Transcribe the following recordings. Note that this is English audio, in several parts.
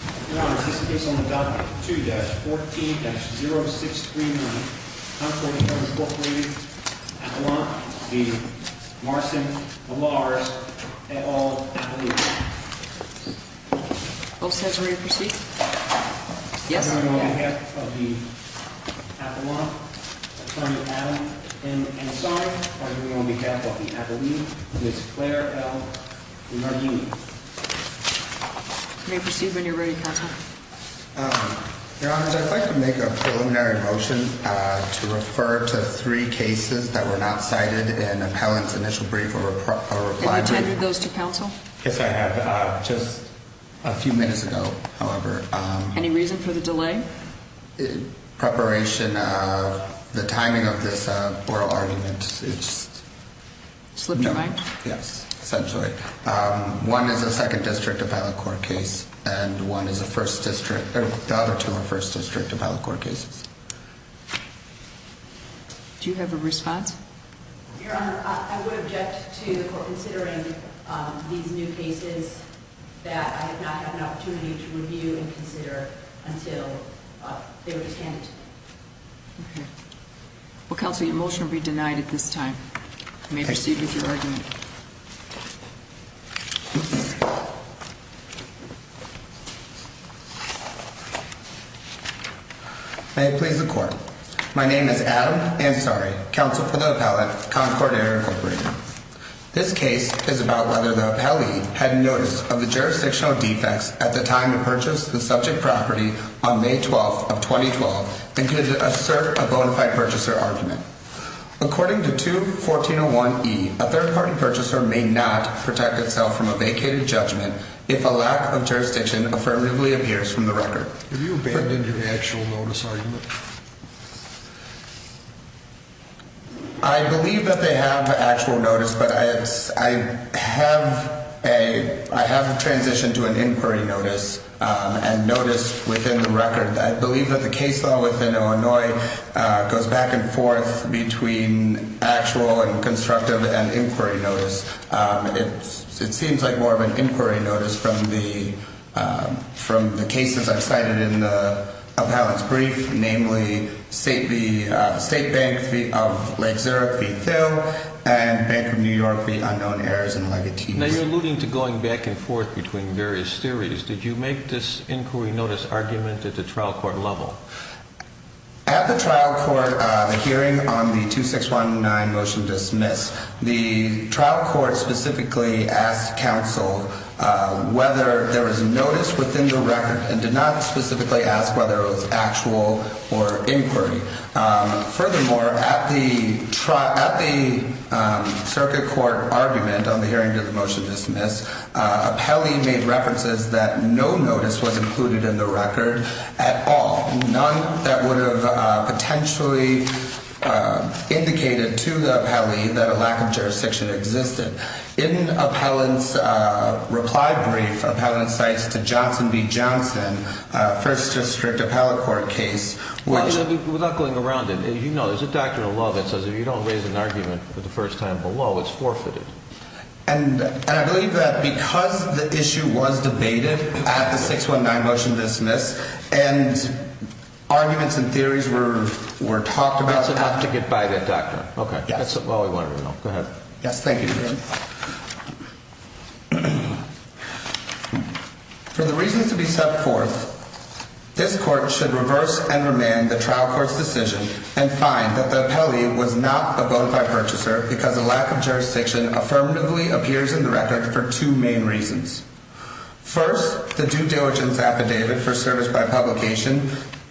2-14-0639 Marston, Malarz, et al. Appellee May proceed when you're ready, Counselor. I'd like to make a preliminary motion to refer to three cases that were not cited in Appellant's initial brief or reply brief. Have you tended those to Counsel? Yes, I have. Just a few minutes ago, however. Any reason for the delay? Preparation of the timing of this oral argument. Slipped your mind? Yes, essentially. One is a second district appellate court case, and one is a first district. The other two are first district appellate court cases. Do you have a response? Your Honor, I would object to considering these new cases that I have not had an opportunity to review and consider until they were attended to. Counsel, your motion will be denied at this time. You may proceed with your argument. May it please the Court. My name is Adam Ansari, Counsel for the Appellate, Concord Air, Inc. This case is about whether the appellee had notice of the jurisdictional defects at the time to purchase the subject property on May 12th of 2012 and could assert a bona fide purchaser argument. According to 2-1401E, a third party purchaser may not protect itself from a vacated judgment if a lack of jurisdiction affirmatively appears from the record. Have you abandoned your actual notice argument? I believe that they have actual notice, but I have a transition to an inquiry notice and notice within the record. I believe that the case law within Illinois goes back and forth between actual and constructive and inquiry notice. It seems like more of an inquiry notice from the cases I have cited in the appellate's brief, namely State Bank of Lake Zerich v. Thill and Bank of New York v. Unknown Heirs and Legatees. You are alluding to going back and forth between various theories. Did you make this inquiry notice argument at the trial court level? At the trial court hearing on the 2619 motion to dismiss, the trial court specifically asked counsel whether there was notice within the record and did not specifically ask whether it was actual or inquiry. Furthermore, at the circuit court argument on the hearing to the motion to dismiss, appellee made references that no notice was included in the record at all. None that would have potentially indicated to the appellee that a lack of jurisdiction existed. In appellate's reply brief, appellate cites to Johnson v. Johnson First District Appellate Court case. We're not going around it. As you know, there's a doctrine of law that says if you don't raise an argument for the first time below, it's forfeited. And I believe that because the issue was debated at the 619 motion to dismiss and arguments and theories were talked about. That's enough to get by that doctrine. Okay. That's all we want to know. Go ahead. Yes, thank you. For the reasons to be set forth, this court should reverse and remand the trial court's decision and find that the appellee was not a bona fide purchaser because a lack of jurisdiction affirmatively appears in the record for two main reasons. First, the due diligence affidavit for service by publication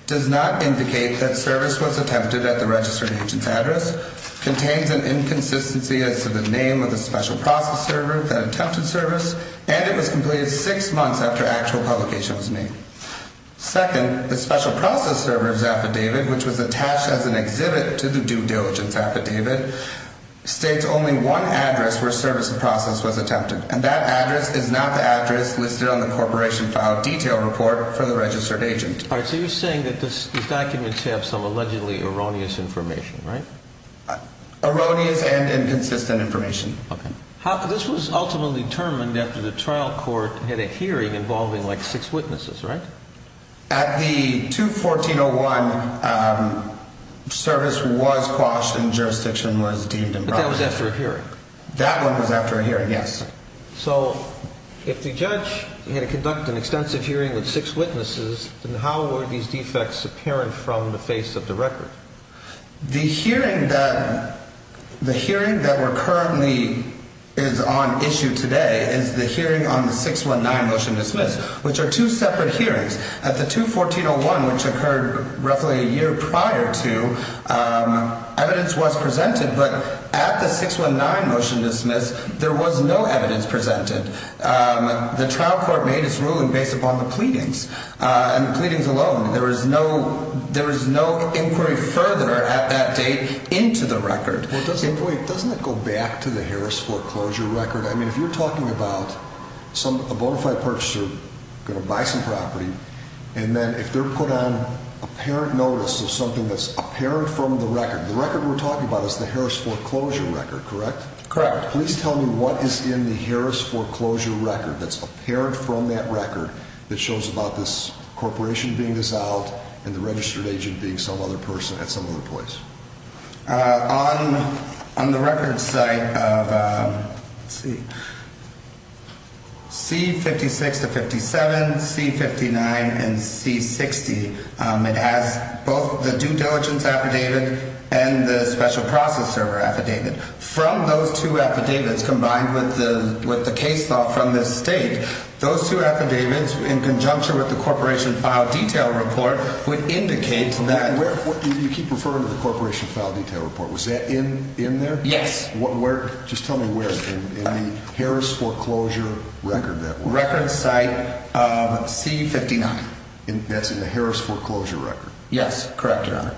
does not indicate that service was attempted at the registered agent's address, contains an inconsistency as to the name of the special process server that attempted service, and it was completed six months after actual publication was made. Second, the special process server's affidavit, which was attached as an exhibit to the due diligence affidavit, states only one address where service and process was attempted, and that address is not the address listed on the corporation file detail report for the registered agent. All right. So you're saying that this documents have some allegedly erroneous information, right? Erroneous and inconsistent information. This was ultimately determined after the trial court had a hearing involving like six witnesses, right? At the 2-1401, service was quashed and jurisdiction was deemed improper. But that was after a hearing. That one was after a hearing, yes. So if the judge had to conduct an extensive hearing with six witnesses, then how were these defects apparent from the face of the record? The hearing that we're currently is on issue today is the hearing on the 6-1-9 motion to dismiss, which are two separate hearings. At the 2-1401, which occurred roughly a year prior to, evidence was presented, but at the 6-1-9 motion to dismiss, there was no evidence presented. The trial court made its ruling based upon the pleadings, and the pleadings alone. There was no inquiry further at that date into the record. Well, doesn't it go back to the Harris foreclosure record? I mean, if you're talking about a bona fide purchaser going to buy some property, and then if they're put on apparent notice of something that's apparent from the record, the record we're talking about is the Harris foreclosure record, correct? Correct. Please tell me what is in the Harris foreclosure record that's apparent from that record that shows about this corporation being dissolved and the registered agent being some other person at some other place. On the record site of C-56 to 57, C-59, and C-60, it has both the due diligence affidavit and the special process server affidavit. From those two affidavits combined with the case law from this state, those two affidavits in conjunction with the corporation file detail report would indicate that... You keep referring to the corporation file detail report. Was that in there? Yes. Just tell me where in the Harris foreclosure record that was. Record site of C-59. That's in the Harris foreclosure record? Yes, correct, Your Honor.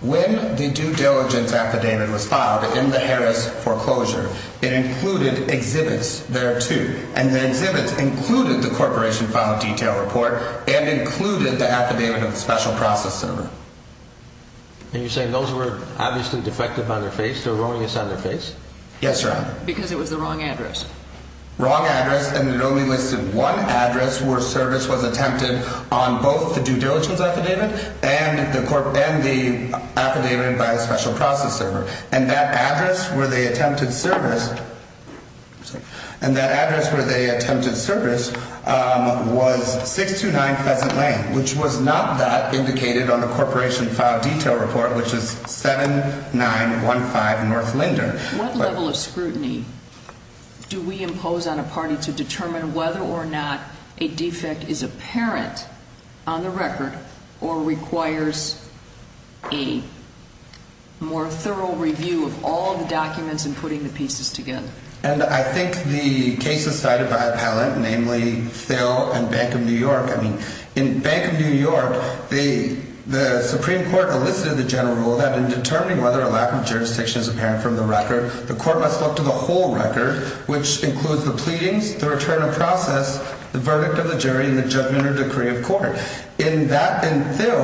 When the due diligence affidavit was filed in the Harris foreclosure, it included exhibits there, too. And the exhibits included the corporation file detail report and included the affidavit of the special process server. And you're saying those were obviously defective on their face? They're erroneous on their face? Yes, Your Honor. Because it was the wrong address. Wrong address, and it only listed one address where service was attempted on both the due diligence affidavit and the affidavit by a special process server. And that address where they attempted service was 629 Pheasant Lane, which was not that indicated on the corporation file detail report, which is 7915 North Linder. What level of scrutiny do we impose on a party to determine whether or not a defect is apparent on the record or requires a more thorough review of all the documents and putting the pieces together? And I think the cases cited by Appellant, namely Thill and Bank of New York. I mean, in Bank of New York, the Supreme Court elicited the general rule that in determining whether a lack of jurisdiction is apparent from the record, the court must look to the whole record, which includes the pleadings, the return of process, the verdict of the jury, and the judgment or decree of court. In that, in Thill,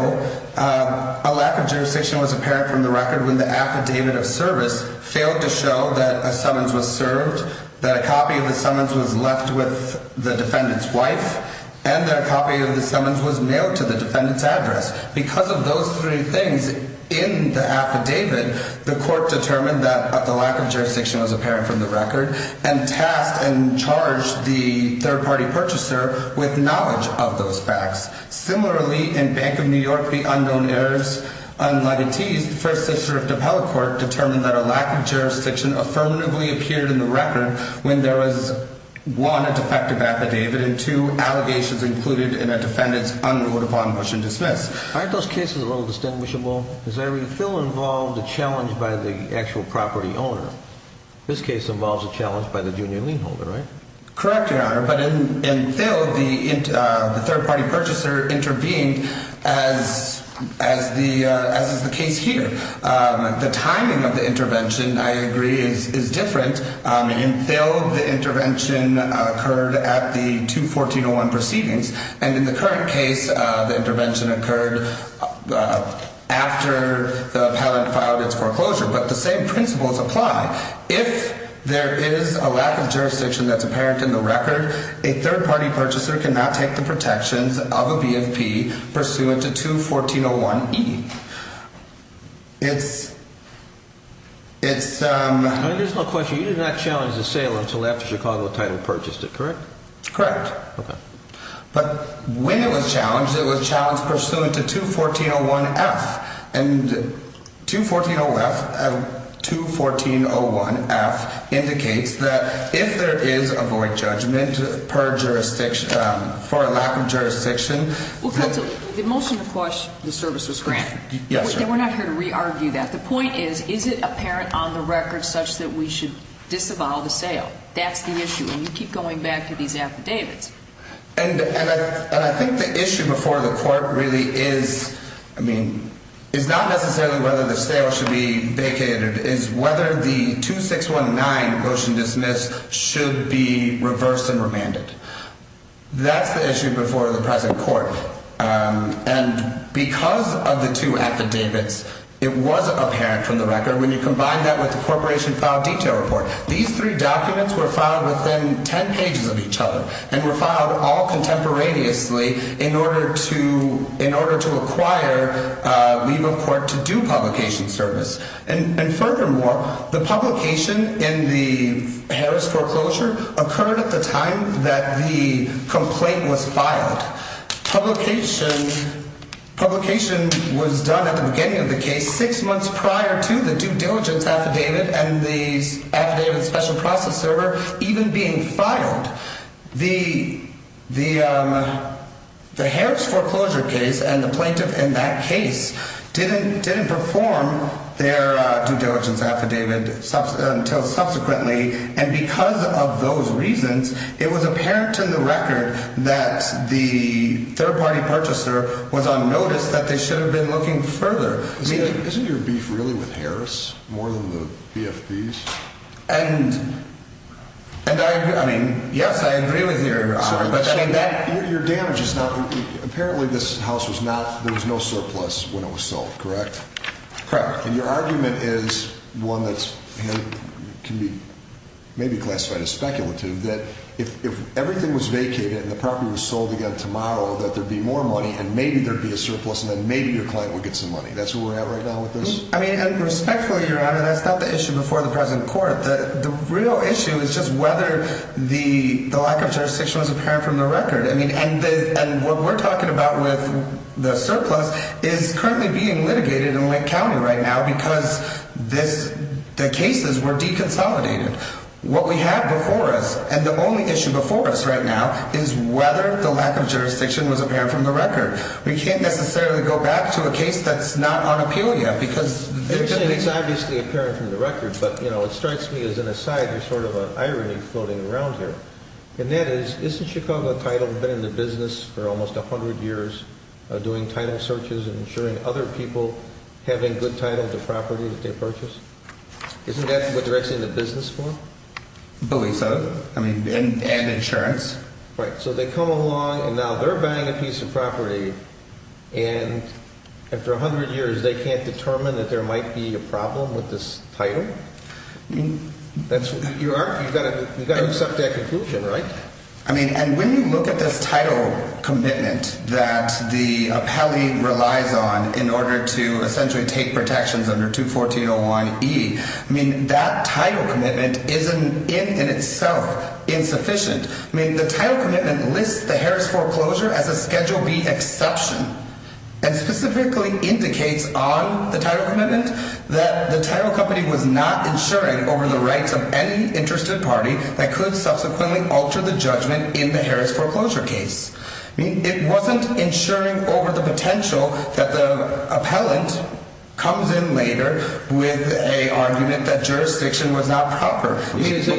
a lack of jurisdiction was apparent from the record when the affidavit of service failed to show that a summons was served, that a copy of the summons was left with the defendant's wife, and that a copy of the summons was mailed to the defendant's address. Because of those three things in the affidavit, the court determined that the lack of jurisdiction was apparent from the record and tasked and charged the third-party purchaser with knowledge of those facts. Similarly, in Bank of New York, the unknown heirs, unlike it teased, the First District Appellate Court determined that a lack of jurisdiction affirmatively appeared in the record when there was, one, a defective affidavit, and two, allegations included in a defendant's unruled upon push and dismiss. Aren't those cases a little distinguishable? As I read, Thill involved a challenge by the actual property owner. This case involves a challenge by the junior lien holder, right? Correct, Your Honor. But in Thill, the third-party purchaser intervened as is the case here. The timing of the intervention, I agree, is different. In Thill, the intervention occurred at the 2-1401 proceedings. And in the current case, the intervention occurred after the appellant filed its foreclosure. But the same principles apply. If there is a lack of jurisdiction that's apparent in the record, a third-party purchaser cannot take the protections of a BFP pursuant to 2-1401E. It's, it's, um... There's no question. You did not challenge the sale until after Chicago title purchased it, correct? Correct. Okay. But when it was challenged, it was challenged pursuant to 2-1401F. And 2-140F, um, 2-1401F indicates that if there is a void judgment per jurisdiction, um, for a lack of jurisdiction... Well, counsel, the motion to quash the service was granted. Yes, Your Honor. We're not here to re-argue that. The point is, is it apparent on the record such that we should disavow the sale? That's the issue. And you keep going back to these affidavits. And, and I, and I think the issue before the court really is, I mean, is not necessarily whether the sale should be vacated. It is whether the 2619 motion dismissed should be reversed and remanded. That's the issue before the present court. Um, and because of the two affidavits, it was apparent from the record when you combine that with the corporation file detail report. These three documents were filed within 10 pages of each other. And were filed all contemporaneously in order to, in order to acquire, uh, leave of court to do publication service. And, and furthermore, the publication in the Harris foreclosure occurred at the time that the complaint was filed. Publication, publication was done at the beginning of the case 6 months prior to the due diligence affidavit. And these affidavits, special process server, even being filed, the, the, um, the Harris foreclosure case and the plaintiff in that case didn't, didn't perform their due diligence affidavit until subsequently. And because of those reasons, it was apparent to the record that the third party purchaser was on notice that they should have been looking further. Isn't your beef really with Harris more than the BFPs? And, and I, I mean, yes, I agree with you. Your damage is not, apparently this house was not, there was no surplus when it was sold, correct? Correct. And your argument is one that's can be maybe classified as speculative that if, if everything was vacated and the property was sold again tomorrow, that there'd be more money and maybe there'd be a surplus and then maybe your client would get some money. That's where we're at right now with this. I mean, and respectfully, you're on it. That's not the issue before the present court. The real issue is just whether the, the lack of jurisdiction was apparent from the record. I mean, and the, and what we're talking about with the surplus is currently being litigated in Lake County right now because this, the cases were deconsolidated. What we have before us and the only issue before us right now is whether the lack of jurisdiction was apparent from the record. We can't necessarily go back to a case that's not on appeal yet because. It's obviously apparent from the record, but you know, it strikes me as an aside, there's sort of an irony floating around here. And that is, isn't Chicago Title been in the business for almost a hundred years doing title searches and ensuring other people having good title to property that they purchase? Isn't that what they're actually in the business for? I believe so. I mean, and insurance. Right. So they come along and now they're buying a piece of property and after a hundred years, they can't determine that there might be a problem with this title. That's what you are. You've got to, you've got to accept that conclusion, right? I mean, and when you look at this title commitment that the appellee relies on in order to essentially take protections under two, 1401 E. I mean, that title commitment isn't in itself insufficient. I mean, the title commitment lists the Harris foreclosure as a schedule B exception and specifically indicates on the title commitment that the title company was not insuring over the rights of any interested party that could subsequently alter the judgment in the Harris foreclosure case. I mean, it wasn't insuring over the potential that the appellant comes in later with a argument that jurisdiction was not proper. If you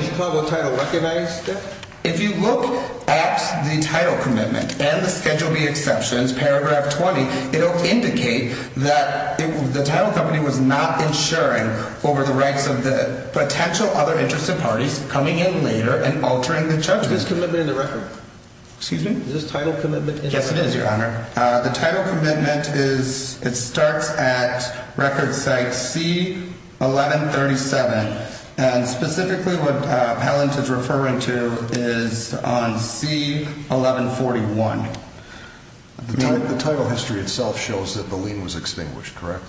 look at the title commitment and the schedule B exceptions, paragraph 20, it'll indicate that the title company was not insuring over the rights of the potential other interested parties coming in later and altering the judgment. Is this commitment in the record? Excuse me? Is this title commitment in the record? Yes, it is, Your Honor. The title commitment is, it starts at record site C1137 and specifically what appellant is referring to is on C1141. The title history itself shows that the lien was extinguished, correct?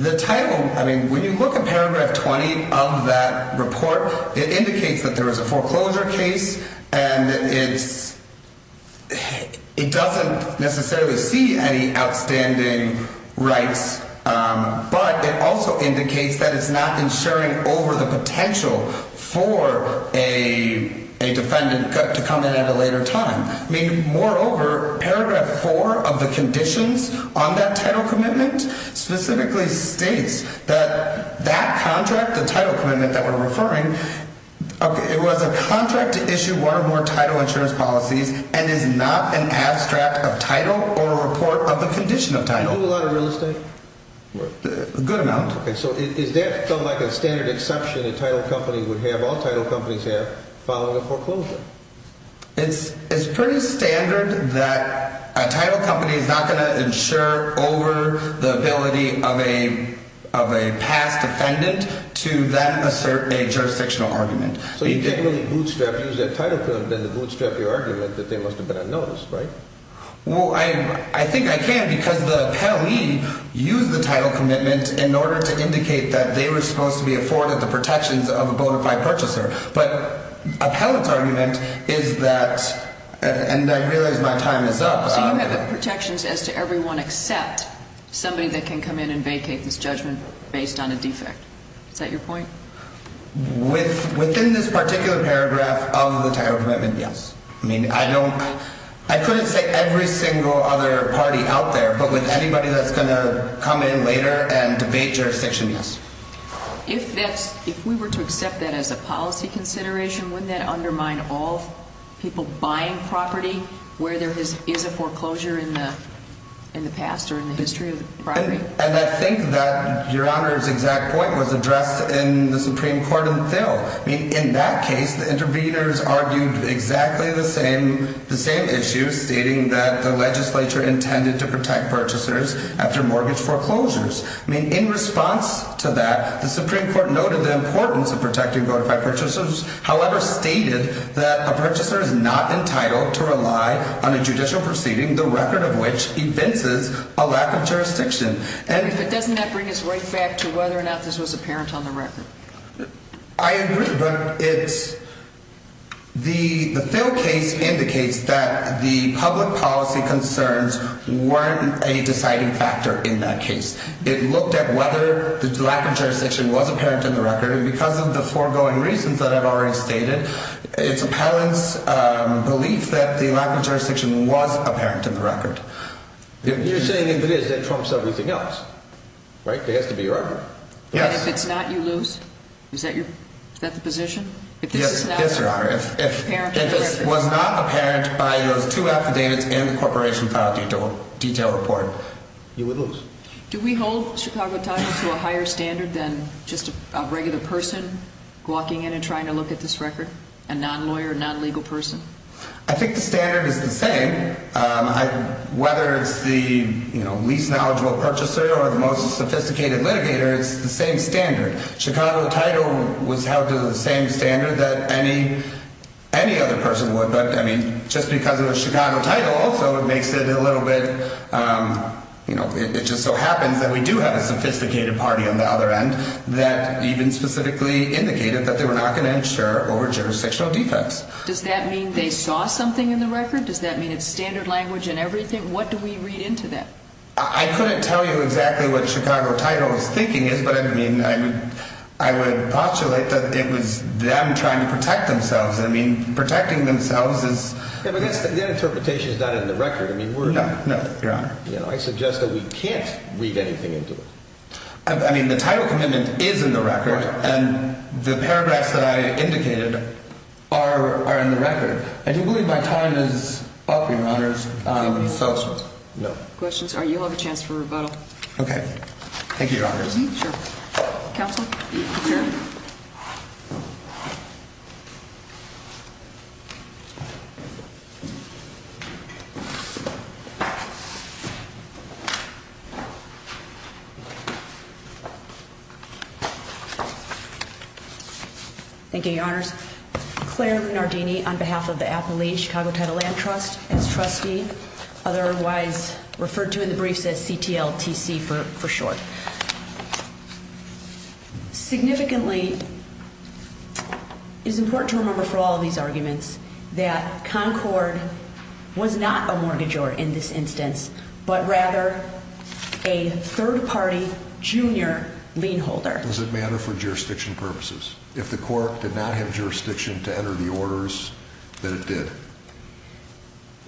The title, I mean, when you look at paragraph 20 of that report, it indicates that there was a foreclosure case and it doesn't necessarily see any outstanding rights, but it also indicates that it's not insuring over the potential for a defendant to come in at a later time. I mean, moreover, paragraph 4 of the conditions on that title commitment specifically states that that contract, the title commitment that we're referring, it was a contract to issue one or more title insurance policies and is not an abstract of title or a report of the condition of title. Do you do a lot of real estate? A good amount. Okay, so is that something like a standard exception a title company would have, all title companies have, following a foreclosure? It's pretty standard that a title company is not going to insure over the ability of a past defendant to then assert a jurisdictional argument. So you can't really bootstrap, use that title commitment to bootstrap your argument that there must have been a notice, right? Well, I think I can because the appellee used the title commitment in order to indicate that they were supposed to be afforded the protections of a bona fide purchaser. But appellate's argument is that, and I realize my time is up. So you have protections as to everyone except somebody that can come in and vacate this judgment based on a defect. Is that your point? Within this particular paragraph of the title commitment, yes. I mean, I couldn't say every single other party out there, but with anybody that's going to come in later and debate jurisdiction, yes. If we were to accept that as a policy consideration, wouldn't that undermine all people buying property where there is a foreclosure in the past or in the history of the property? And I think that Your Honor's exact point was addressed in the Supreme Court in Thill. I mean, in that case, the interveners argued exactly the same issues, stating that the legislature intended to protect purchasers after mortgage foreclosures. I mean, in response to that, the Supreme Court noted the importance of protecting bona fide purchasers, however stated that a purchaser is not entitled to rely on a judicial proceeding, the record of which evinces a lack of jurisdiction. But doesn't that bring us right back to whether or not this was apparent on the record? I agree, but the Thill case indicates that the public policy concerns weren't a deciding factor in that case. It looked at whether the lack of jurisdiction was apparent in the record, and because of the foregoing reasons that I've already stated, it's appellant's belief that the lack of jurisdiction was apparent in the record. You're saying if it is, it trumps everything else, right? It has to be your argument. Yes. And if it's not, you lose? Is that the position? Yes, Your Honor. If this was not apparent by those two affidavits and the corporation file detail report, you would lose. Do we hold Chicago Tiger to a higher standard than just a regular person walking in and trying to look at this record, a non-lawyer, non-legal person? I think the standard is the same, whether it's the least knowledgeable purchaser or the most sophisticated litigator, it's the same standard. Chicago Tiger was held to the same standard that any other person would, but just because it was Chicago Tiger also makes it a little bit, it just so happens that we do have a sophisticated party on the other end that even specifically indicated that they were not going to insure over jurisdictional defects. Does that mean they saw something in the record? Does that mean it's standard language and everything? What do we read into that? I couldn't tell you exactly what Chicago Tiger's thinking is, but I mean, I would postulate that it was them trying to protect themselves. I mean, protecting themselves is... Yeah, but that interpretation is not in the record. I mean, we're... No, no, Your Honor. I suggest that we can't read anything into it. I mean, the title commitment is in the record, and the paragraphs that I indicated are in the record. And do you believe my time is up, Your Honors? No. Questions? You'll have a chance for rebuttal. Okay. Thank you, Your Honors. Sure. Counsel? Thank you, Your Honors. Significantly, it is important to remember for all of these arguments that Concord was not a mortgagor in this instance, but rather a third-party junior lien holder. Does it matter for jurisdiction purposes? If the court did not have jurisdiction to enter the orders that it did,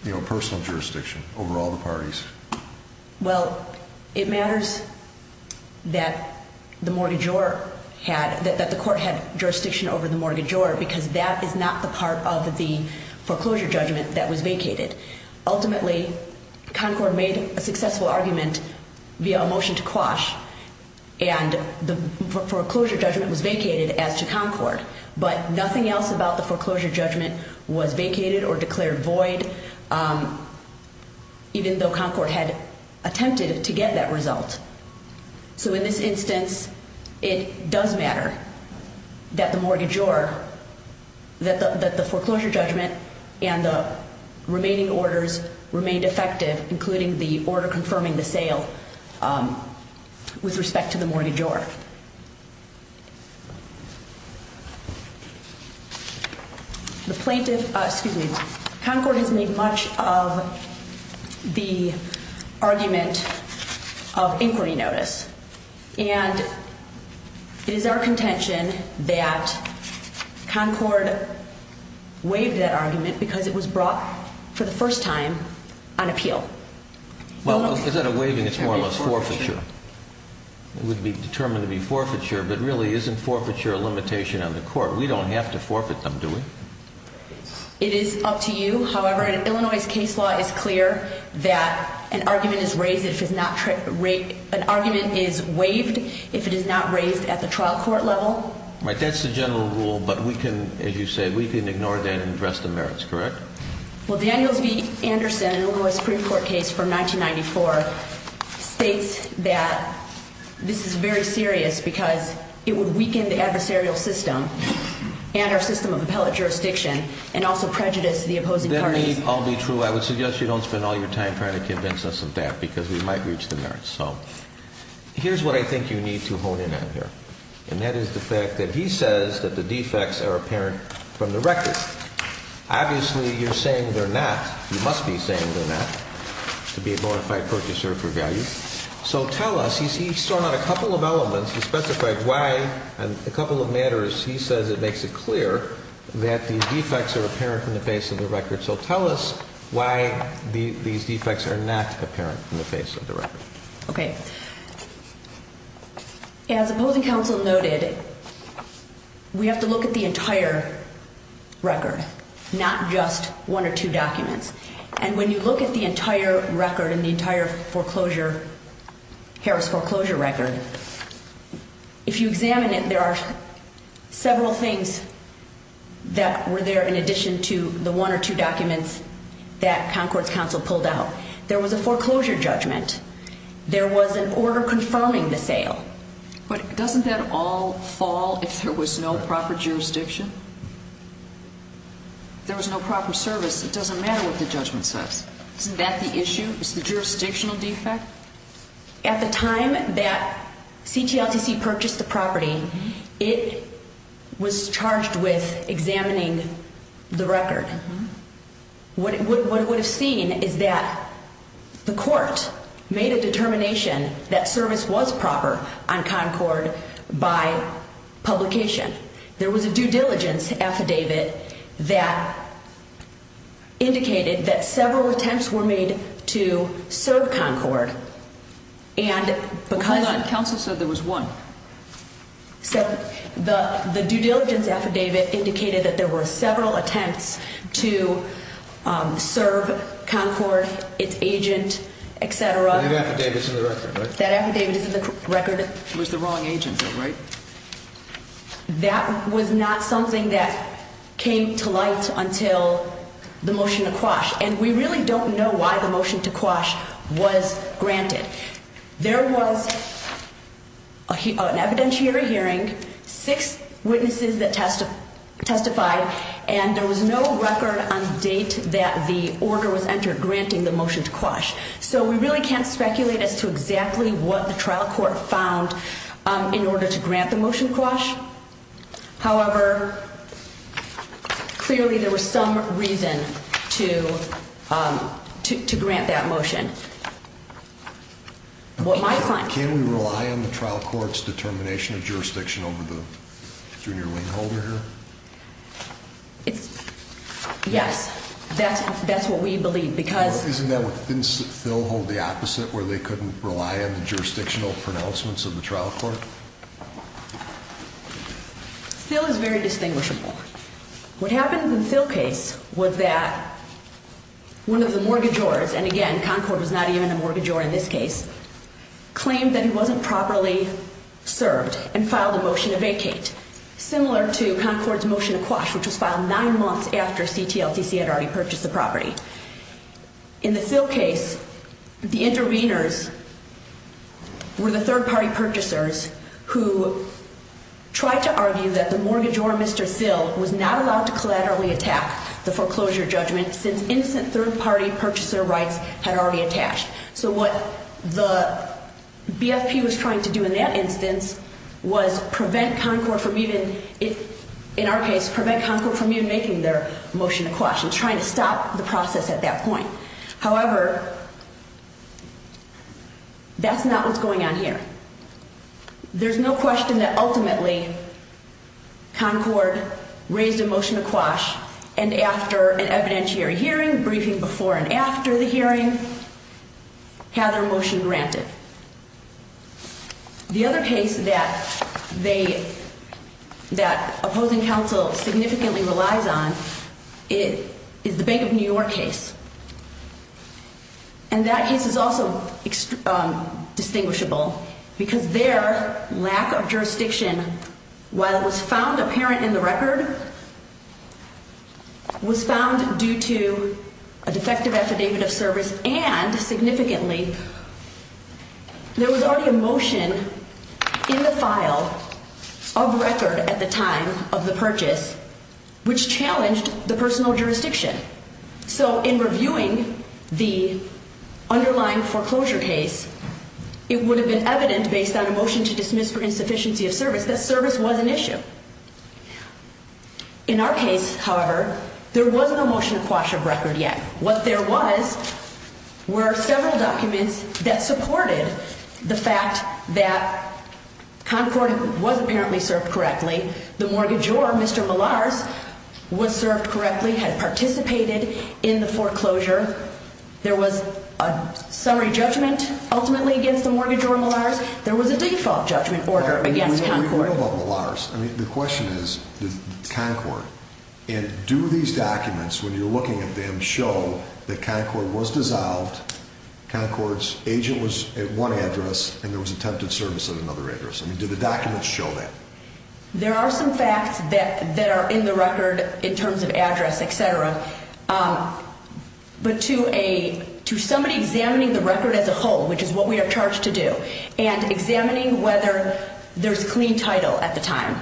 you know, personal jurisdiction over all the parties? Well, it matters that the court had jurisdiction over the mortgagor because that is not the part of the foreclosure judgment that was vacated. Ultimately, Concord made a successful argument via a motion to quash, and the foreclosure judgment was vacated as to Concord. But nothing else about the foreclosure judgment was vacated or declared void, even though Concord had attempted to get that result. So in this instance, it does matter that the mortgagor, that the foreclosure judgment and the remaining orders remained effective, including the order confirming the sale with respect to the mortgagor. The plaintiff, excuse me, Concord has made much of the argument of inquiry notice, and it is our contention that Concord waived that argument because it was brought, for the first time, on appeal. Well, is that a waiving? It's more or less forfeiture. It would be determined to be forfeiture, but really isn't forfeiture a limitation on the court? We don't have to forfeit them, do we? It is up to you. However, Illinois' case law is clear that an argument is raised if it's not, an argument is waived if it is not raised at the trial court level. Right, that's the general rule, but we can, as you said, we can ignore that and address the merits, correct? Well, Daniels v. Anderson, an Illinois Supreme Court case from 1994, states that this is very serious because it would weaken the adversarial system and our system of appellate jurisdiction and also prejudice the opposing parties. That may all be true. I would suggest you don't spend all your time trying to convince us of that because we might reach the merits. So, here's what I think you need to hone in on here, and that is the fact that he says that the defects are apparent from the record. Obviously, you're saying they're not. You must be saying they're not to be a modified purchaser for value. So tell us, he's thrown out a couple of elements, he specified why, and a couple of matters, he says it makes it clear that the defects are apparent from the face of the record. So tell us why these defects are not apparent from the face of the record. Okay. As opposing counsel noted, we have to look at the entire record, not just one or two documents. And when you look at the entire record and the entire foreclosure, Harris foreclosure record, if you examine it, there are several things that were there in addition to the one or two documents that Concord's counsel pulled out. There was a foreclosure judgment. There was an order confirming the sale. But doesn't that all fall if there was no proper jurisdiction? If there was no proper service, it doesn't matter what the judgment says. Isn't that the issue? Is the jurisdictional defect? At the time that CTLTC purchased the property, it was charged with examining the record. What it would have seen is that the court made a determination that service was proper on Concord by publication. There was a due diligence affidavit that indicated that several attempts were made to serve Concord. Hold on. Counsel said there was one. The due diligence affidavit indicated that there were several attempts to serve Concord, its agent, et cetera. That affidavit is in the record, right? That affidavit is in the record. It was the wrong agent, though, right? That was not something that came to light until the motion to quash. And we really don't know why the motion to quash was granted. There was an evidentiary hearing, six witnesses that testified, and there was no record on the date that the order was entered granting the motion to quash. So we really can't speculate as to exactly what the trial court found in order to grant the motion to quash. However, clearly there was some reason to grant that motion. Can we rely on the trial court's determination of jurisdiction over the junior link holder here? Yes, that's what we believe. Didn't Thill hold the opposite, where they couldn't rely on the jurisdictional pronouncements of the trial court? Thill is very distinguishable. What happened in the Thill case was that one of the mortgagors, and again, Concord was not even a mortgagor in this case, claimed that he wasn't properly served and filed a motion to vacate, similar to Concord's motion to quash, which was filed nine months after CTLTC had already purchased the property. In the Thill case, the interveners were the third-party purchasers who tried to argue that the mortgagor, Mr. Thill, was not allowed to collaterally attack the foreclosure judgment since innocent third-party purchaser rights had already attached. So what the BFP was trying to do in that instance was prevent Concord from even making their motion to quash and trying to stop the process at that point. However, that's not what's going on here. There's no question that ultimately Concord raised a motion to quash, and after an evidentiary hearing, briefing before and after the hearing, had their motion granted. The other case that they, that opposing counsel significantly relies on is the Bank of New York case. And that case is also distinguishable because their lack of jurisdiction, while it was found apparent in the record, was found due to a defective affidavit of service and, significantly, there was already a motion in the file of record at the time of the purchase which challenged the personal jurisdiction. So in reviewing the underlying foreclosure case, it would have been evident based on a motion to dismiss for insufficiency of service that service was an issue. In our case, however, there was no motion to quash of record yet. What there was were several documents that supported the fact that Concord was apparently served correctly. The mortgagor, Mr. Millars, was served correctly, had participated in the foreclosure. There was a summary judgment ultimately against the mortgagor, Millars. There was a default judgment order against Concord. What do we know about Millars? I mean, the question is, Concord. And do these documents, when you're looking at them, show that Concord was dissolved, Concord's agent was at one address, and there was attempted service at another address? I mean, do the documents show that? There are some facts that are in the record in terms of address, et cetera. But to somebody examining the record as a whole, which is what we are charged to do, and examining whether there's clean title at the time,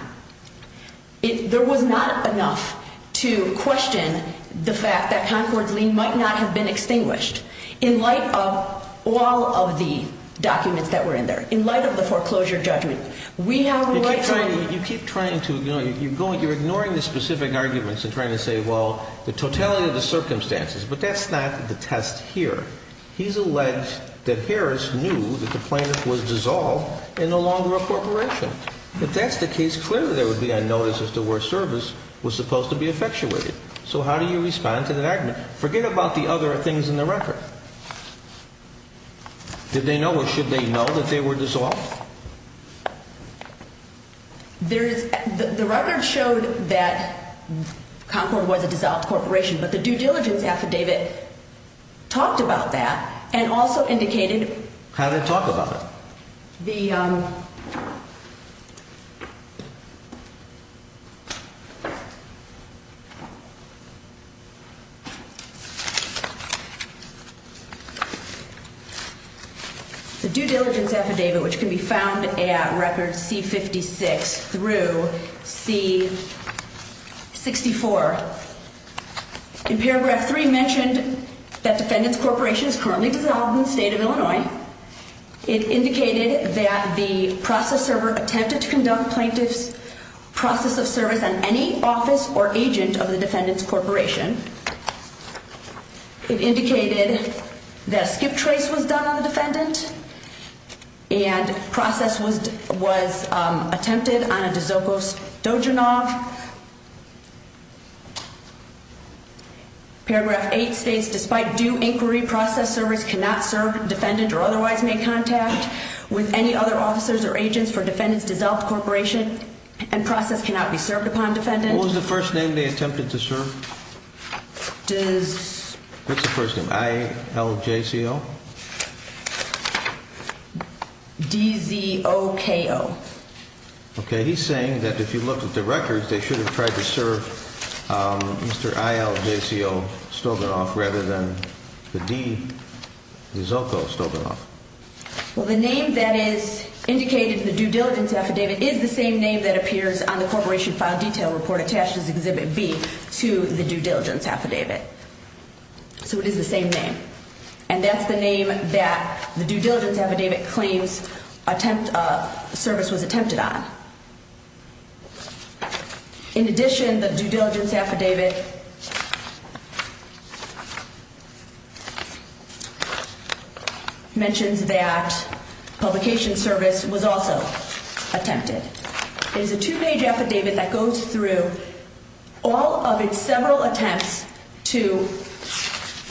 there was not enough to question the fact that Concord's lien might not have been extinguished. In light of all of the documents that were in there, in light of the foreclosure judgment, we have the right to – You keep trying to – you're ignoring the specific arguments and trying to say, well, the totality of the circumstances. But that's not the test here. He's alleged that Harris knew that the plaintiff was dissolved and no longer a corporation. If that's the case, clearly there would be a notice as to where service was supposed to be effectuated. So how do you respond to that argument? Forget about the other things in the record. Did they know or should they know that they were dissolved? There is – the record showed that Concord was a dissolved corporation, but the due diligence affidavit talked about that and also indicated – How did it talk about it? The – The due diligence affidavit, which can be found at records C-56 through C-64. In paragraph three, mentioned that defendant's corporation is currently dissolved in the state of Illinois. It indicated that the process server attempted to conduct plaintiff's process of service on any office or agent of the defendant's corporation. It indicated that a skip trace was done on the defendant and process was attempted on a DeZocos Dojanov. Paragraph eight states, despite due inquiry, process servers cannot serve defendant or otherwise make contact with any other officers or agents for defendant's dissolved corporation and process cannot be served upon defendant. What was the first name they attempted to serve? Dez – What's the first name? I-L-J-C-O? D-Z-O-K-O. Okay, he's saying that if you looked at the records, they should have tried to serve Mr. I-L-J-C-O Dojanov rather than the D-Z-O-K-O Dojanov. Well, the name that is indicated in the due diligence affidavit is the same name that appears on the corporation file detail report attached as Exhibit B to the due diligence affidavit. So it is the same name. And that's the name that the due diligence affidavit claims attempt – service was attempted on. In addition, the due diligence affidavit mentions that publication service was also attempted. It is a two-page affidavit that goes through all of its several attempts to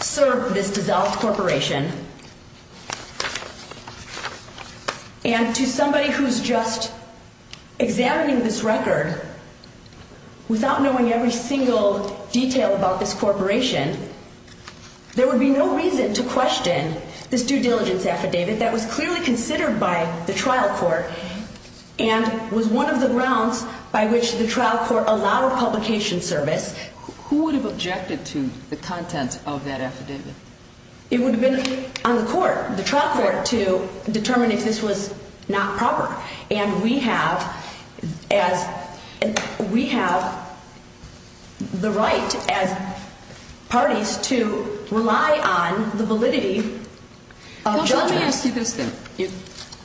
serve this dissolved corporation. And to somebody who's just examining this record without knowing every single detail about this corporation, there would be no reason to question this due diligence affidavit that was clearly considered by the trial court and was one of the grounds by which the trial court allowed publication service. Who would have objected to the contents of that affidavit? It would have been on the court, the trial court, to determine if this was not proper. And we have as – we have the right as parties to rely on the validity of judgment.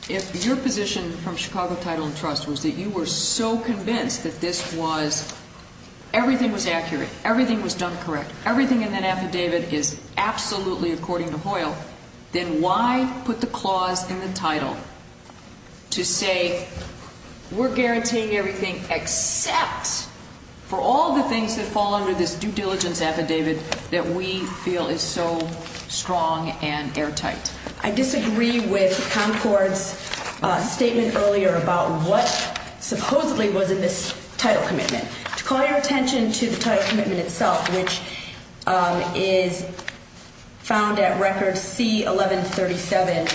If your position from Chicago Title and Trust was that you were so convinced that this was – everything was accurate, everything was done correct, everything in that affidavit is absolutely according to Hoyle, then why put the clause in the title to say we're guaranteeing everything except for all the things that fall under this due diligence affidavit that we feel is so strong and airtight? I disagree with Concord's statement earlier about what supposedly was in this title commitment. To call your attention to the title commitment itself, which is found at records C1137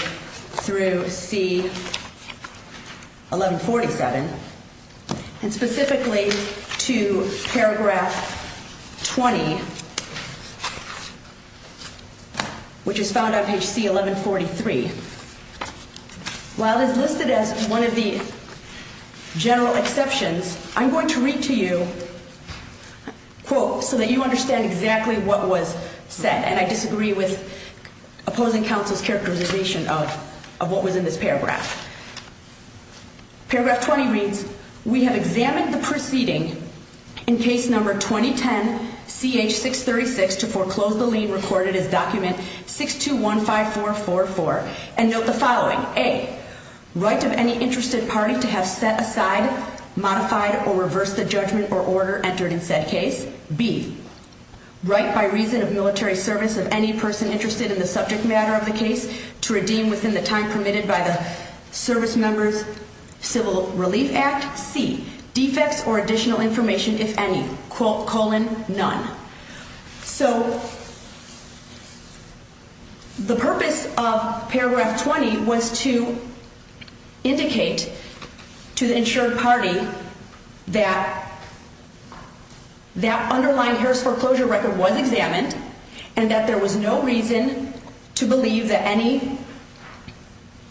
through C1147, and specifically to paragraph 20, which is found on page C1143. While it's listed as one of the general exceptions, I'm going to read to you, quote, so that you understand exactly what was said. And I disagree with opposing counsel's characterization of what was in this paragraph. Paragraph 20 reads, we have examined the proceeding in case number 2010, CH636, to foreclose the lien recorded as document 6215444, and note the following. A, right of any interested party to have set aside, modified, or reversed the judgment or order entered in said case. B, right by reason of military service of any person interested in the subject matter of the case to redeem within the time permitted by the Service Members Civil Relief Act. C, defects or additional information, if any, quote, colon, none. So the purpose of paragraph 20 was to indicate to the insured party that that underlying HEERS foreclosure record was examined, and that there was no reason to believe that any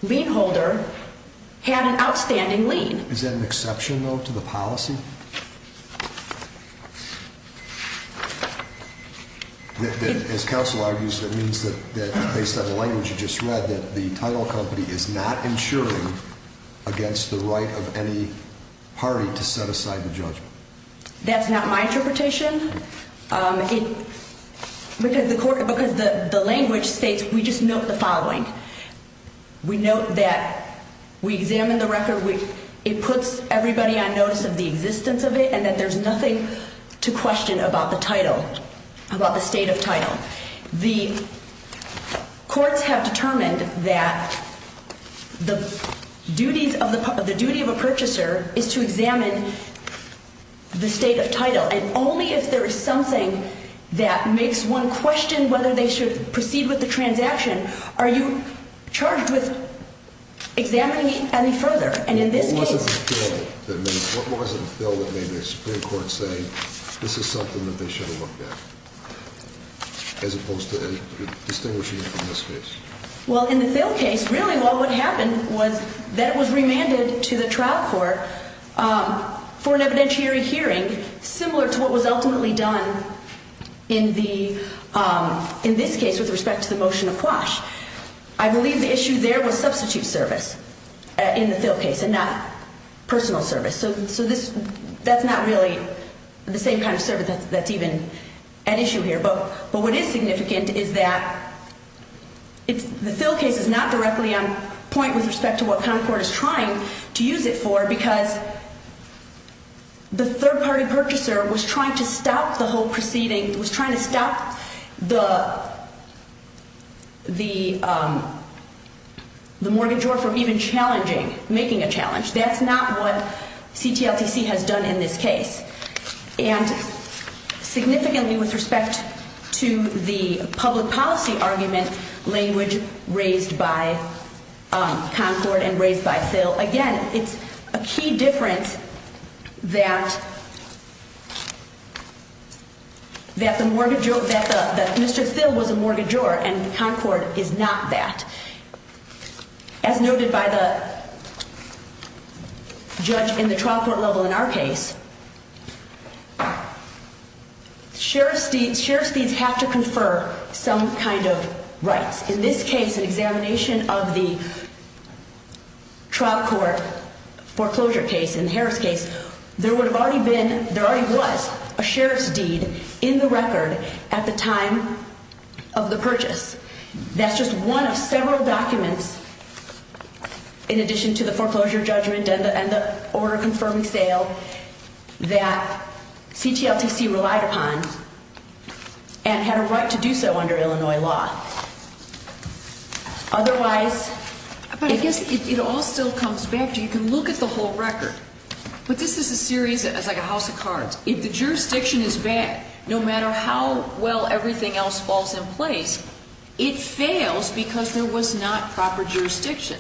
lien holder had an outstanding lien. Is that an exception, though, to the policy? As counsel argues, that means that, based on the language you just read, that the title company is not insuring against the right of any party to set aside the judgment. That's not my interpretation. Because the language states, we just note the following. We note that we examine the record. It puts everybody on notice of the existence of it, and that there's nothing to question about the title, about the state of title. The courts have determined that the duty of a purchaser is to examine the state of title. And only if there is something that makes one question whether they should proceed with the transaction are you charged with examining it any further. What was it in the Thill that made the Supreme Court say, this is something that they should have looked at, as opposed to distinguishing it from this case? Well, in the Thill case, really what happened was that it was remanded to the trial court for an evidentiary hearing, similar to what was ultimately done in this case with respect to the motion of Quash. I believe the issue there was substitute service in the Thill case, and not personal service. So that's not really the same kind of service that's even at issue here. But what is significant is that the Thill case is not directly on point with respect to what Concord is trying to use it for, because the third-party purchaser was trying to stop the whole proceeding, was trying to stop the mortgagor from even challenging, making a challenge. That's not what CTLTC has done in this case. And significantly with respect to the public policy argument, language raised by Concord and raised by Thill, again, it's a key difference that Mr. Thill was a mortgagor and Concord is not that. As noted by the judge in the trial court level in our case, sheriff's deeds have to confer some kind of rights. In this case, an examination of the trial court foreclosure case, in the Harris case, there would have already been, there already was a sheriff's deed in the record at the time of the purchase. That's just one of several documents, in addition to the foreclosure judgment and the order confirming sale, that CTLTC relied upon and had a right to do so under Illinois law. Otherwise, but I guess it all still comes back to, you can look at the whole record, but this is a series, it's like a house of cards. If the jurisdiction is bad, no matter how well everything else falls in place, it fails because there was not proper jurisdiction.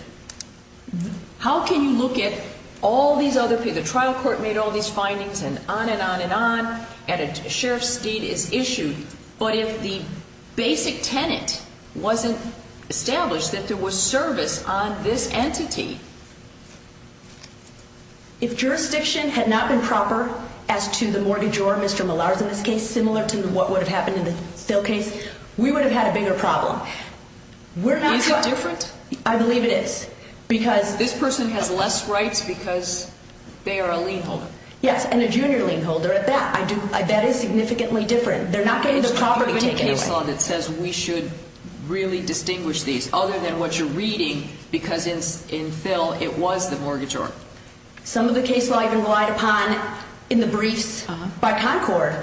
How can you look at all these other, the trial court made all these findings and on and on and on, and a sheriff's deed is issued. But if the basic tenant wasn't established, that there was service on this entity. If jurisdiction had not been proper as to the mortgage or Mr. Malar's in this case, similar to what would have happened in the still case, we would have had a bigger problem. We're not different. I believe it is because this person has less rights because they are a lien holder. Yes. And a junior lien holder at that. I do. That is significantly different. They're not getting the property taken. There's a case law that says we should really distinguish these other than what you're reading, because in Phil, it was the mortgagor. Some of the case law even relied upon in the briefs by Concord.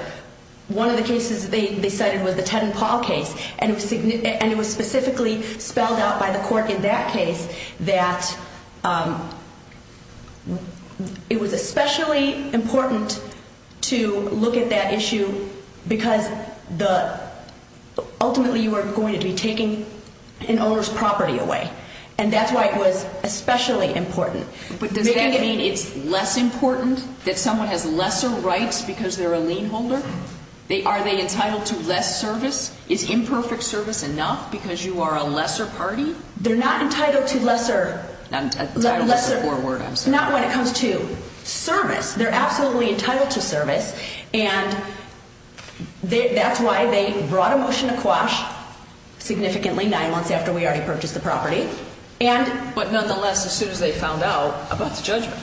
One of the cases they cited was the Ted and Paul case. And it was specifically spelled out by the court in that case that it was especially important to look at that issue because ultimately you are going to be taking an owner's property away. And that's why it was especially important. But does that mean it's less important that someone has lesser rights because they're a lien holder? Are they entitled to less service? Is imperfect service enough because you are a lesser party? They're not entitled to lesser. Not when it comes to service. They're absolutely entitled to service. And that's why they brought a motion to quash significantly nine months after we already purchased the property. But nonetheless, as soon as they found out about the judgment.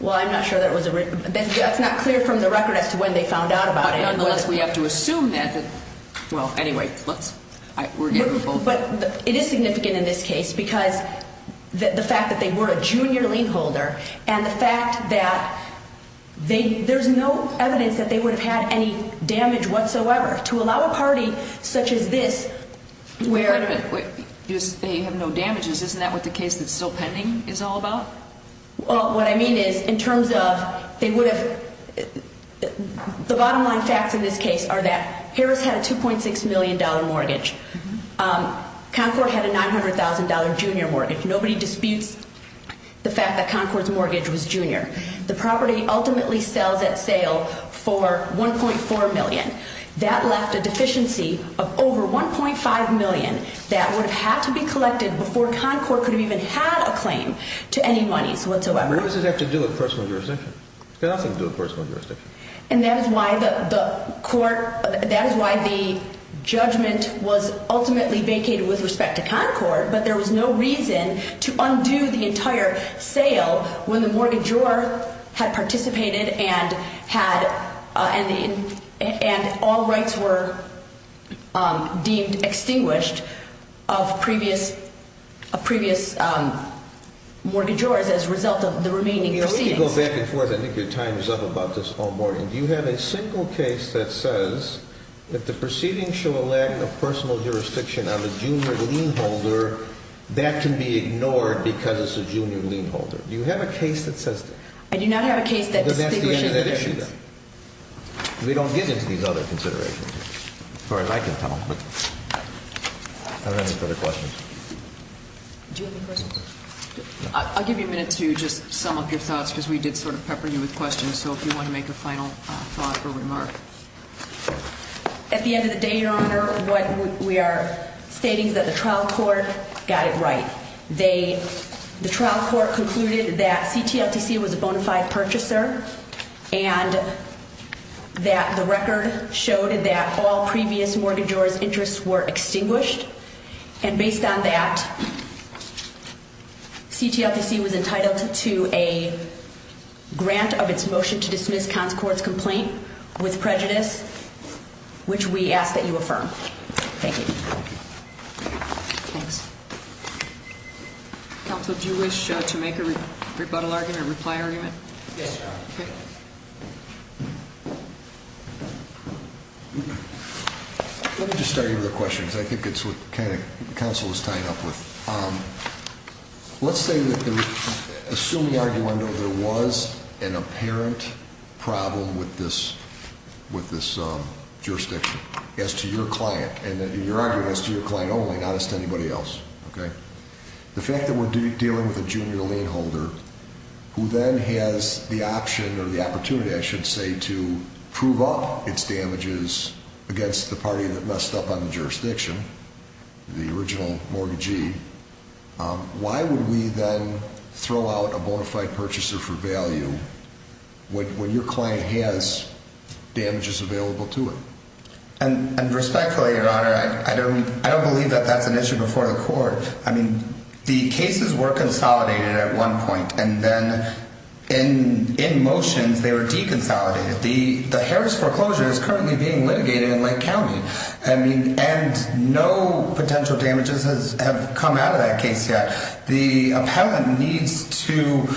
Well, I'm not sure that was a real, that's not clear from the record as to when they found out about it. But nonetheless, we have to assume that. Well, anyway, let's, we're getting both. But it is significant in this case because the fact that they were a junior lien holder and the fact that they, there's no evidence that they would have had any damage whatsoever to allow a party such as this. Wait a minute. They have no damages. Isn't that what the case that's still pending is all about? Well, what I mean is in terms of they would have, the bottom line facts in this case are that Harris had a $2.6 million mortgage. Concord had a $900,000 junior mortgage. Nobody disputes the fact that Concord's mortgage was junior. The property ultimately sells at sale for $1.4 million. That left a deficiency of over $1.5 million that would have had to be collected before Concord could have even had a claim to any monies whatsoever. What does it have to do with personal jurisdiction? It has nothing to do with personal jurisdiction. And that is why the court, that is why the judgment was ultimately vacated with respect to Concord. But there was no reason to undo the entire sale when the mortgagor had participated and had, and all rights were deemed extinguished of previous mortgagors as a result of the remaining proceedings. You go back and forth. I think your time is up about this all morning. Do you have a single case that says that the proceedings show a lack of personal jurisdiction on a junior lien holder that can be ignored because it's a junior lien holder? Do you have a case that says that? I do not have a case that distinguishes the two. We don't get into these other considerations as far as I can tell. I don't have any further questions. Do you have any questions? I'll give you a minute to just sum up your thoughts because we did sort of pepper you with questions. So if you want to make a final thought or remark. At the end of the day, Your Honor, what we are stating is that the trial court got it right. The trial court concluded that CTLTC was a bona fide purchaser and that the record showed that all previous mortgagors' interests were extinguished. And based on that, CTLTC was entitled to a grant of its motion to dismiss Conn's Court's complaint with prejudice, which we ask that you affirm. Thank you. Thanks. Counsel, do you wish to make a rebuttal argument, reply argument? Yes, Your Honor. Okay. Let me just start you with a question because I think it's what counsel was tying up with. Let's say that assuming argument there was an apparent problem with this jurisdiction as to your client and your argument as to your client only, not as to anybody else. The fact that we're dealing with a junior lien holder who then has the option or the opportunity, I should say, to prove up its damages against the party that messed up on the jurisdiction, the original mortgagee. Why would we then throw out a bona fide purchaser for value when your client has damages available to it? And respectfully, Your Honor, I don't believe that that's an issue before the court. I mean, the cases were consolidated at one point and then in motions they were deconsolidated. The Harris foreclosure is currently being litigated in Lake County. I mean, and no potential damages have come out of that case yet. The appellant needs to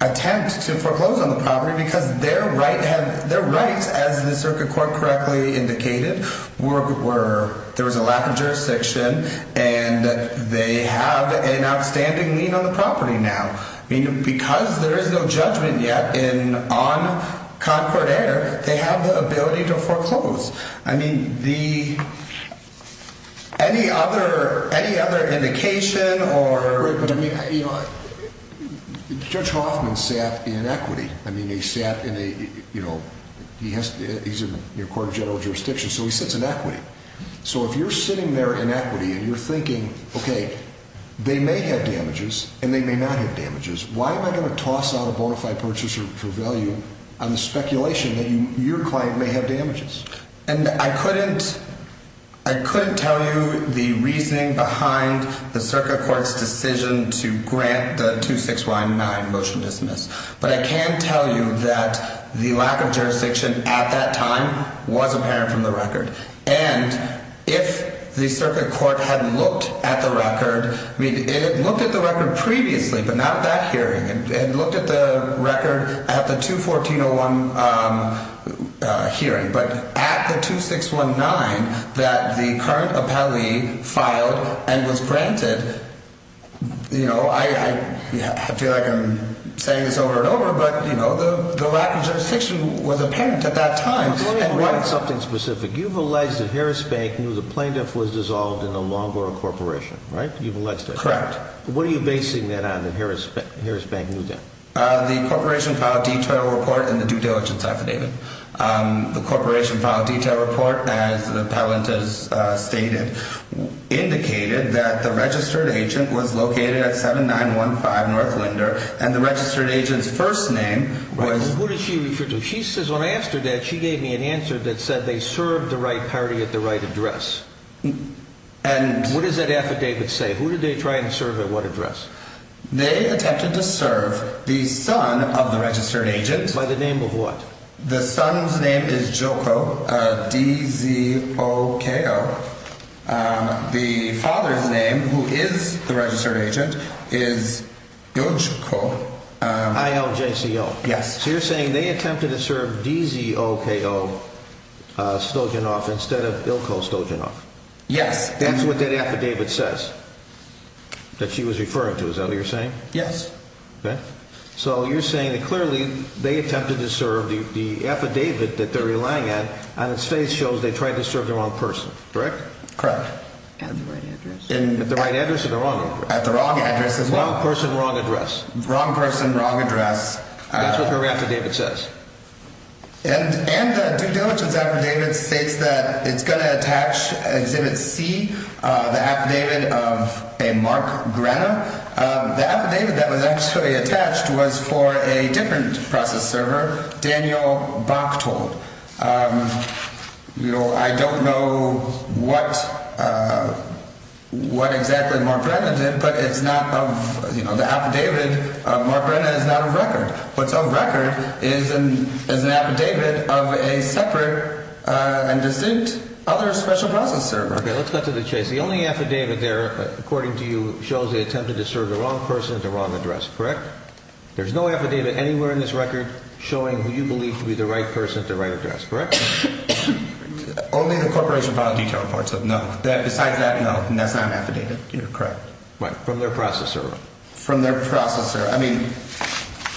attempt to foreclose on the property because their rights, as the circuit court correctly indicated, were there was a lack of jurisdiction and they have an outstanding lien on the property now. I mean, because there is no judgment yet on Concord Air, they have the ability to foreclose. I mean, the any other any other indication or. But I mean, Judge Hoffman sat in equity. I mean, he sat in a you know, he has he's in your court of general jurisdiction. So he sits in equity. So if you're sitting there in equity and you're thinking, OK, they may have damages and they may not have damages. Why am I going to toss out a bonafide purchaser for value on the speculation that your client may have damages? And I couldn't. I couldn't tell you the reasoning behind the circuit court's decision to grant the two six one nine motion dismiss. But I can tell you that the lack of jurisdiction at that time was apparent from the record. And if the circuit court had looked at the record, I mean, it looked at the record previously, but not that hearing and looked at the record at the two fourteen oh one hearing. But at the two six one nine that the current appellee filed and was granted, you know, I feel like I'm saying this over and over. But, you know, the lack of jurisdiction was apparent at that time. Let me write something specific. You've alleged that Harris Bank knew the plaintiff was dissolved in the Longora Corporation, right? You've alleged that. Correct. What are you basing that on? That Harris Harris Bank knew that the corporation filed a detailed report in the due diligence affidavit. The corporation filed a detailed report as the appellant has stated, indicated that the registered agent was located at seven nine one five Northlander and the registered agent's first name was. What did she refer to? She says when I asked her that she gave me an answer that said they served the right party at the right address. And what does that affidavit say? Who did they try and serve at what address? They attempted to serve the son of the registered agent. By the name of what? The son's name is Joko. D.Z.O.K.O. The father's name, who is the registered agent, is Gojko. I.L.J.C.O. Yes. So you're saying they attempted to serve D.Z.O.K.O. Stojanov instead of I.L.J.C.O. Stojanov. Yes. That's what that affidavit says that she was referring to. Is that what you're saying? Yes. So you're saying that clearly they attempted to serve the affidavit that they're relying on and its face shows they tried to serve the wrong person. Correct? Correct. At the right address. At the right address or the wrong address? At the wrong address as well. Wrong person, wrong address. Wrong person, wrong address. That's what her affidavit says. And the due diligence affidavit states that it's going to attach Exhibit C, the affidavit of a Mark Brenna. The affidavit that was actually attached was for a different process server, Daniel Bocktold. You know, I don't know what exactly Mark Brenna did, but it's not of, you know, the affidavit of Mark Brenna is not of record. What's of record is an affidavit of a separate and distinct other special process server. Okay. Let's cut to the chase. The only affidavit there, according to you, shows they attempted to serve the wrong person at the wrong address. Correct? There's no affidavit anywhere in this record showing who you believe to be the right person at the right address. Correct? Only the corporation file detail reports. No. Besides that, no. And that's not an affidavit. Correct. Right. From their process server. From their process server. I mean,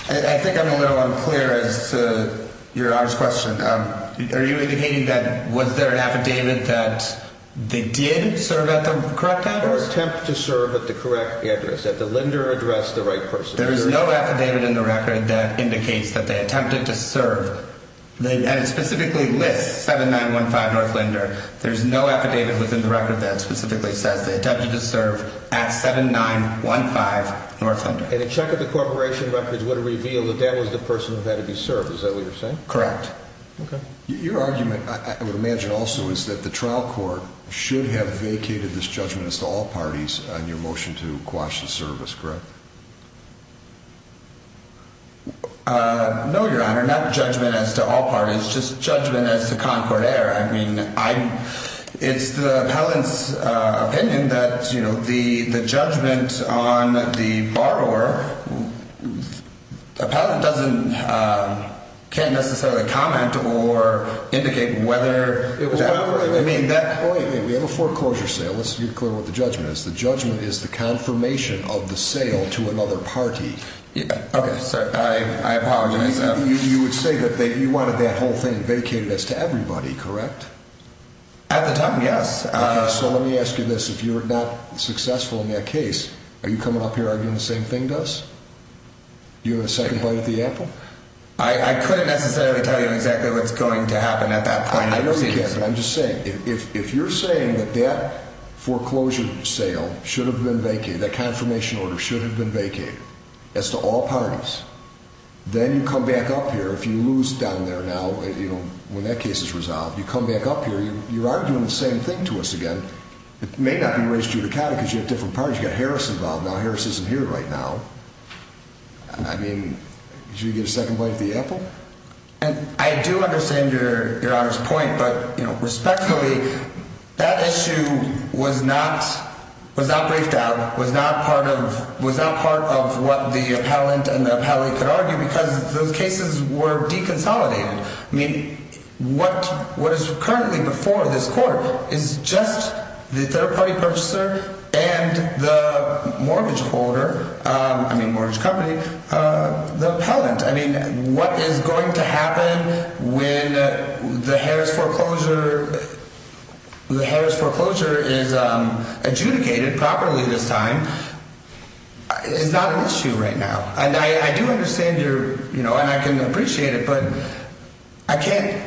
I think I'm a little unclear as to your honest question. Are you indicating that was there an affidavit that they did serve at the correct address? Or attempt to serve at the correct address, at the lender address, the right person. There is no affidavit in the record that indicates that they attempted to serve. And it specifically lists 7915 North Linder. There's no affidavit within the record that specifically says they attempted to serve at 7915 North Linder. And a check of the corporation records would reveal that that was the person who had to be served. Is that what you're saying? Correct. Okay. Your argument, I would imagine also, is that the trial court should have vacated this judgment as to all parties on your motion to quash the service. Correct? No, Your Honor. Not judgment as to all parties. Just judgment as to Concord Air. I mean, it's the appellant's opinion that, you know, the judgment on the borrower, appellant doesn't, can't necessarily comment or indicate whether. I mean, that point, we have a foreclosure sale. Let's be clear what the judgment is. The judgment is the confirmation of the sale to another party. Okay. I apologize. You would say that you wanted that whole thing vacated as to everybody, correct? At the time, yes. Okay. So let me ask you this. If you're not successful in that case, are you coming up here arguing the same thing to us? You have a second bite at the apple? I couldn't necessarily tell you exactly what's going to happen at that point. I know you can't, but I'm just saying, if you're saying that that foreclosure sale should have been vacated, that confirmation order should have been vacated as to all parties, then you come back up here. If you lose down there now, you know, when that case is resolved, you come back up here. You're arguing the same thing to us again. It may not be race judicata because you have different parties. You've got Harris involved. Now, Harris isn't here right now. I mean, should you give a second bite at the apple? And I do understand your Honor's point, but respectfully, that issue was not briefed out, was not part of what the appellant and the appellee could argue because those cases were deconsolidated. I mean, what is currently before this court is just the third-party purchaser and the mortgage holder, I mean mortgage company, the appellant. I mean, what is going to happen when the Harris foreclosure is adjudicated properly this time is not an issue right now. And I do understand your, you know, and I can appreciate it, but I can't,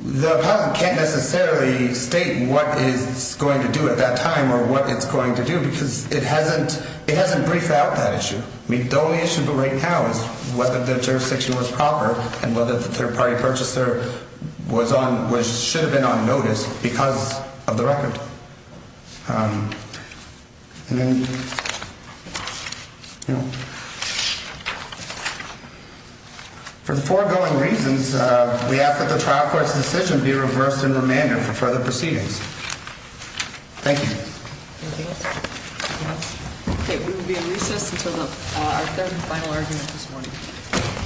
the appellant can't necessarily state what it's going to do at that time or what it's going to do because it hasn't, it hasn't briefed out that issue. I mean, the only issue right now is whether the jurisdiction was proper and whether the third-party purchaser was on, should have been on notice because of the record. And then, you know, for the foregoing reasons, we ask that the trial court's decision be reversed and remanded for further proceedings. Thank you. Okay, we will be in recess until our third and final argument this morning.